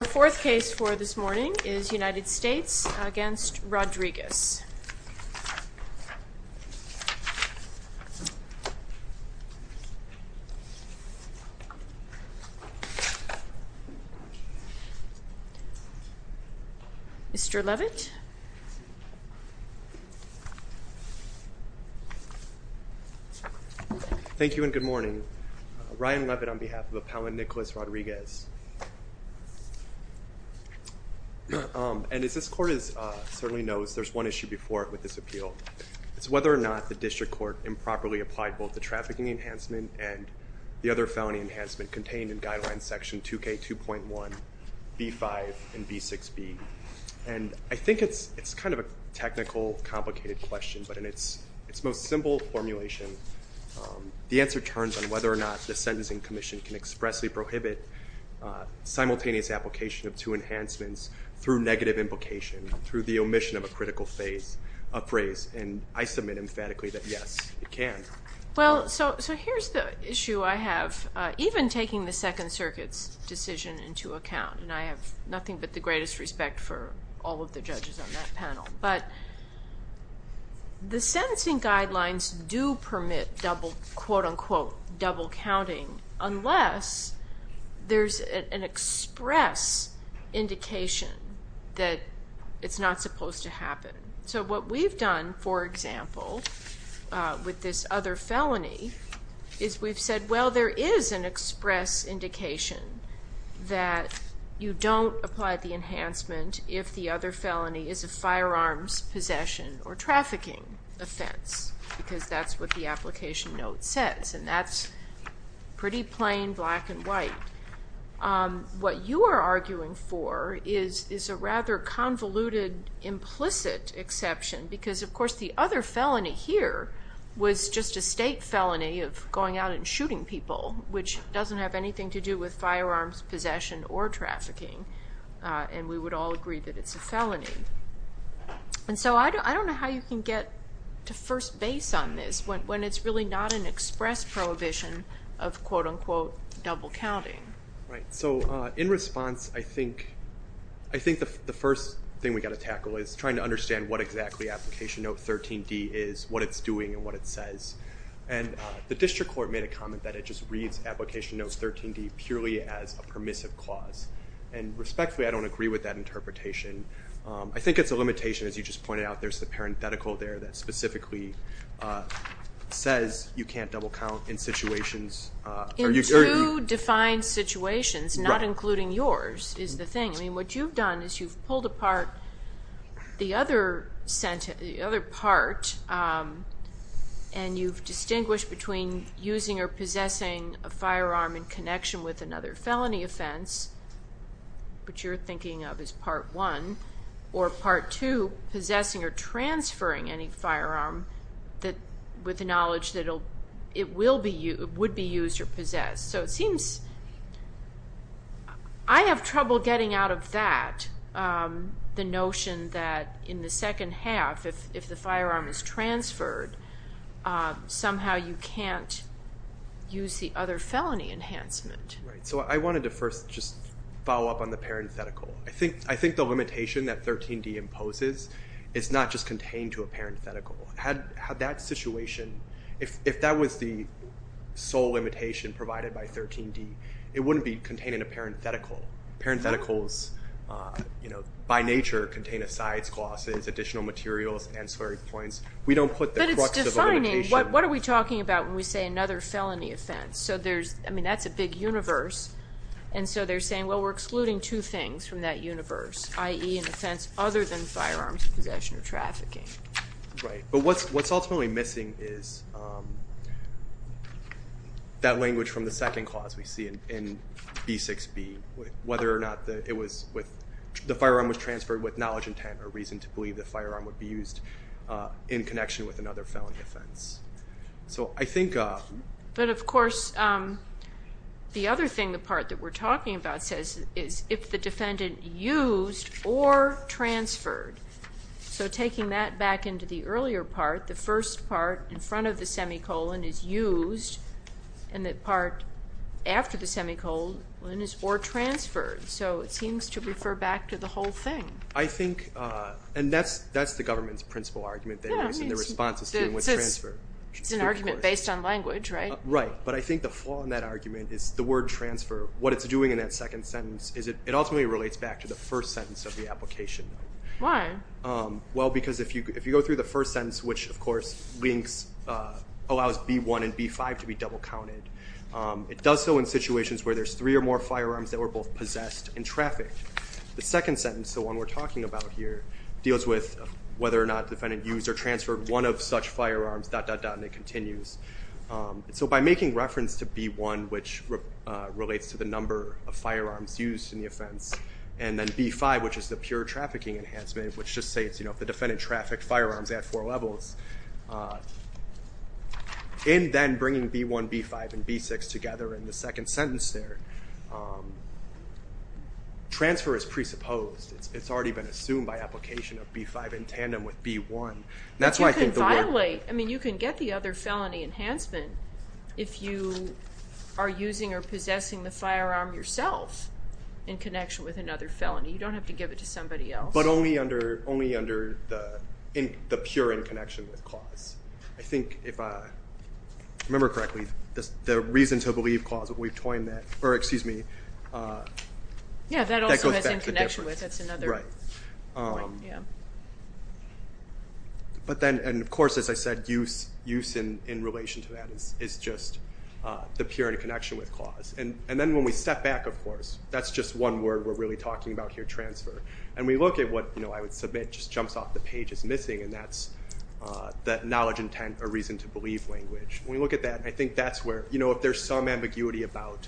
The fourth case for this morning is United States v. Rodriguez Mr. Levitt Thank you, and good morning. Ryan Levitt on behalf of Appellant Nicolas Rodriguez. And as this Court certainly knows, there's one issue before it with this appeal. It's whether or not the District Court improperly applied both the trafficking enhancement and the other felony enhancement contained in Guidelines Section 2K2.1, B5, and B6b. And I think it's kind of a technical, complicated question, but in its most simple formulation, the answer turns on whether or not the Sentencing Commission can expressly prohibit simultaneous application of two enhancements through negative implication, through the omission of a critical phase, a phrase. And I submit emphatically that yes, it can. Well, so here's the issue I have. Even taking the Second Circuit's decision into account, and I have nothing but the greatest respect for all of the judges on that panel, but the sentencing guidelines do permit double, quote-unquote, double counting, unless there's an express indication that it's not supposed to happen. So what we've done, for example, with this other felony, is we've said, well, there is an express indication that you don't apply the enhancement if the other felony is a firearms possession or trafficking offense, because that's what the application note says. And that's pretty plain, black and white. What you are arguing for is a rather convoluted, implicit exception, because, of course, the first estate felony of going out and shooting people, which doesn't have anything to do with firearms possession or trafficking, and we would all agree that it's a felony. And so I don't know how you can get to first base on this when it's really not an express prohibition of, quote-unquote, double counting. So in response, I think the first thing we've got to tackle is trying to understand what exactly Application Note 13d is, what it's doing, and what it says. And the district court made a comment that it just reads Application Note 13d purely as a permissive clause. And respectfully, I don't agree with that interpretation. I think it's a limitation, as you just pointed out. There's the parenthetical there that specifically says you can't double count in situations where you... In two defined situations, not including yours, is the thing. I mean, what you've done is you've pulled apart the other part, and you've distinguished between using or possessing a firearm in connection with another felony offense, which you're thinking of as Part 1, or Part 2, possessing or transferring any firearm with the knowledge that it would be the notion that in the second half, if the firearm is transferred, somehow you can't use the other felony enhancement. Right. So I wanted to first just follow up on the parenthetical. I think the limitation that 13d imposes is not just contained to a parenthetical. Had that situation, if that was the sole limitation provided by 13d, it wouldn't be contained in a parenthetical. Parentheticals, by nature, contain asides, clauses, additional materials, ancillary points. We don't put the crux of a limitation... But it's defining. What are we talking about when we say another felony offense? I mean, that's a big universe, and so they're saying, well, we're excluding two things from that universe, i.e. an offense other than firearms possession or trafficking. Right. But what's ultimately missing is that language from the second clause we see in B6b, whether or not the firearm was transferred with knowledge intent or reason to believe the firearm would be used in connection with another felony offense. So I think... But of course, the other thing, the part that we're talking about says, is if the defendant used or transferred. So taking that back into the earlier part, the first part in front of the semicolon is used, and the part after the semicolon is or transferred. So it seems to refer back to the whole thing. I think, and that's the government's principle argument, and the response is to do with transfer. It's an argument based on language, right? Right. But I think the flaw in that argument is the word transfer. What it's doing in that second sentence is it ultimately relates back to the first sentence of the application. Why? Well, because if you go through the first sentence, which of course links, allows B1 and B5 to be double counted. It does so in situations where there's three or more firearms that were both possessed and trafficked. The second sentence, the one we're talking about here, deals with whether or not the defendant used or transferred one of such firearms, dot, dot, dot, and it continues. So by making reference to B1, which relates to the number of firearms used in the offense, and then B5, which is the pure trafficking enhancement, which just states, you know, if the defendant trafficked firearms at four levels, in then bringing B1, B5, and B6 together in the second sentence there, transfer is presupposed. It's already been assumed by application of B5 in tandem with B1. That's why I think the word- But you can violate, I mean, you can get the other felony enhancement if you are using or possessing the firearm yourself in connection with another felony. You don't have to give it to somebody else. But only under, only under the pure in connection with clause. I think if I remember correctly, the reason to believe clause that we've coined that, or excuse me, that goes back to the difference. Yeah, that also has in connection with, that's another point, yeah. But then, and of course, as I said, use in relation to that is just the pure in connection with clause. And then when we step back, of course, that's just one word we're really talking about here, transfer. And we look at what, you know, I would submit just jumps off the page as missing, and that's that knowledge, intent, or reason to believe language. When we look at that, I think that's where, you know, if there's some ambiguity about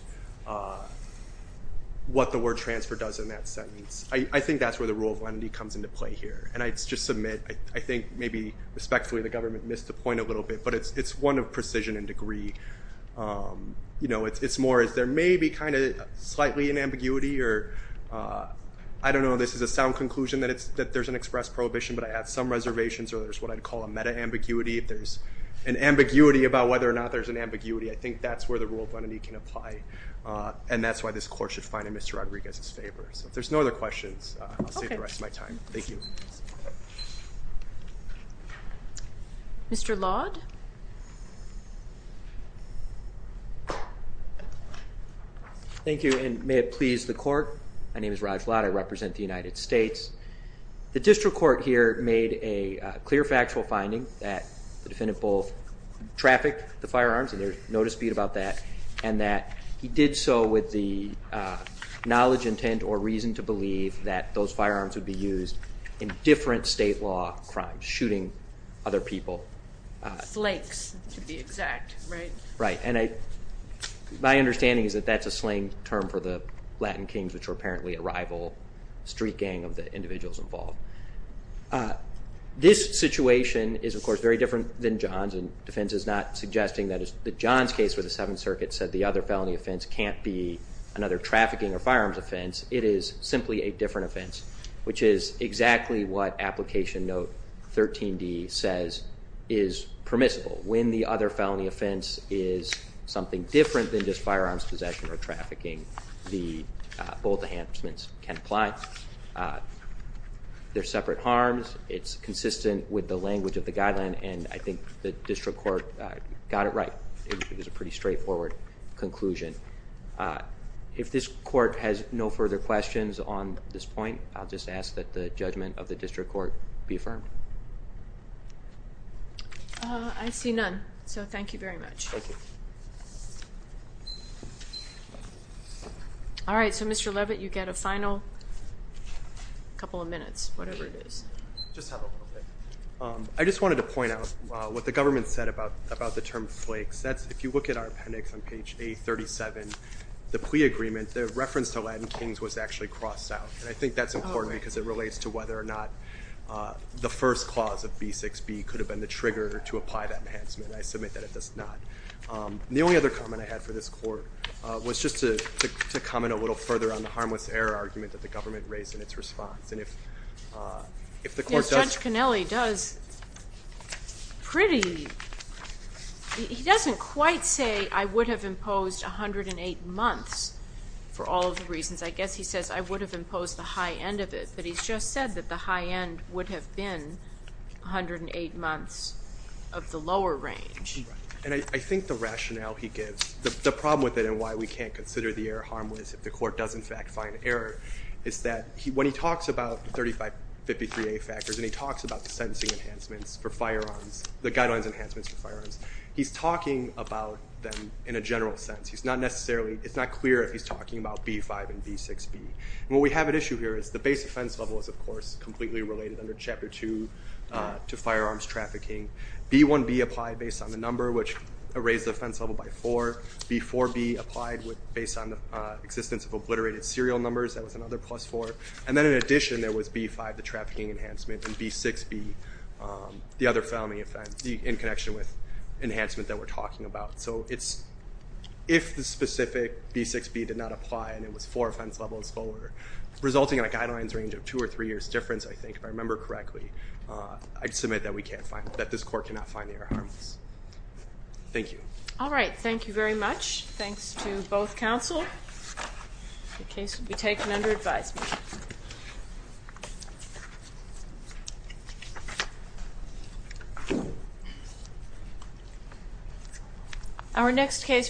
what the word transfer does in that sentence, I think that's where the rule of lenity comes into play here. And I just submit, I think maybe respectfully, the government missed the point a little bit, but it's one of precision and degree. You know, it's more as there may be kind of slightly an ambiguity, or I don't know, this is a sound conclusion that it's, that there's an express prohibition, but I have some reservations, or there's what I'd call a meta-ambiguity. If there's an ambiguity about whether or not there's an ambiguity, I think that's where the rule of lenity can apply. And that's why this court should find in Mr. Rodriguez's favor. So if there's no other questions, I'll save the rest of my time. Thank you. Mr. Laude? Thank you, and may it please the court. My name is Raj Laude. I represent the United States. The district court here made a clear factual finding that the defendant both trafficked the firearms, and there's no dispute about that, and that he did so with the knowledge, intent, or reason to believe that those firearms would be used in different state law crimes, shooting other people. Slakes, to be exact, right? Right, and I, my understanding is that that's a slang term for the Latin kings, which were apparently a rival street gang of the individuals involved. This situation is, of course, very different than John's, and defense is not suggesting that it's, that John's case with the Seventh Circuit said the other felony offense can't be another trafficking or firearms offense. It is simply a different offense, which is exactly what application note 13D says is permissible. When the other felony offense is something different than just firearms possession or trafficking, the, both enhancements can apply. They're separate harms. It's consistent with the language of the guideline, and I think the district court got it right. It was a straightforward conclusion. If this court has no further questions on this point, I'll just ask that the judgment of the district court be affirmed. I see none, so thank you very much. Thank you. All right, so Mr. Levitt, you get a final couple of minutes, whatever it is. Just have a little bit. I just wanted to point out what the government said about, about the term flakes. That's, if you look at our appendix on page A37, the plea agreement, the reference to Latin kings was actually crossed out, and I think that's important because it relates to whether or not the first clause of B6B could have been the trigger to apply that enhancement. I submit that it does not. The only other comment I had for this court was just to, to, to comment a little further on the harmless error argument that the government raised in its response, and if, if the court does. Judge Conelli does pretty, he doesn't quite say I would have imposed 108 months for all of the reasons. I guess he says I would have imposed the high end of it, but he's just said that the high end would have been 108 months of the lower range. And I, I think the rationale he gives, the, the problem with it and why we can't consider the error harmless if the court does in fact find error, is that he, when he talks about the 3553A factors and he talks about the sentencing enhancements for firearms, the guidelines enhancements for firearms, he's talking about them in a general sense. He's not necessarily, it's not clear if he's talking about B5 and B6B. And what we have at issue here is the base offense level is of course completely related under Chapter 2 to firearms trafficking. B1B applied based on the number which raised the offense level by 4. B4B applied with, based on the existence of obliterated serial numbers, that was another plus 4. And then in addition there was B5, the trafficking enhancement, and B6B, the other felony offense, in connection with enhancement that we're talking about. So it's, if the specific B6B did not apply and it was 4 offense levels lower, resulting in a guidelines range of 2 or 3 years difference I think, if I remember correctly, I'd submit that we can't find, that this court cannot find error harmless. Thank you. Alright, thank you very much. Thanks to both counsel. The case will be taken under advisement. Thank you.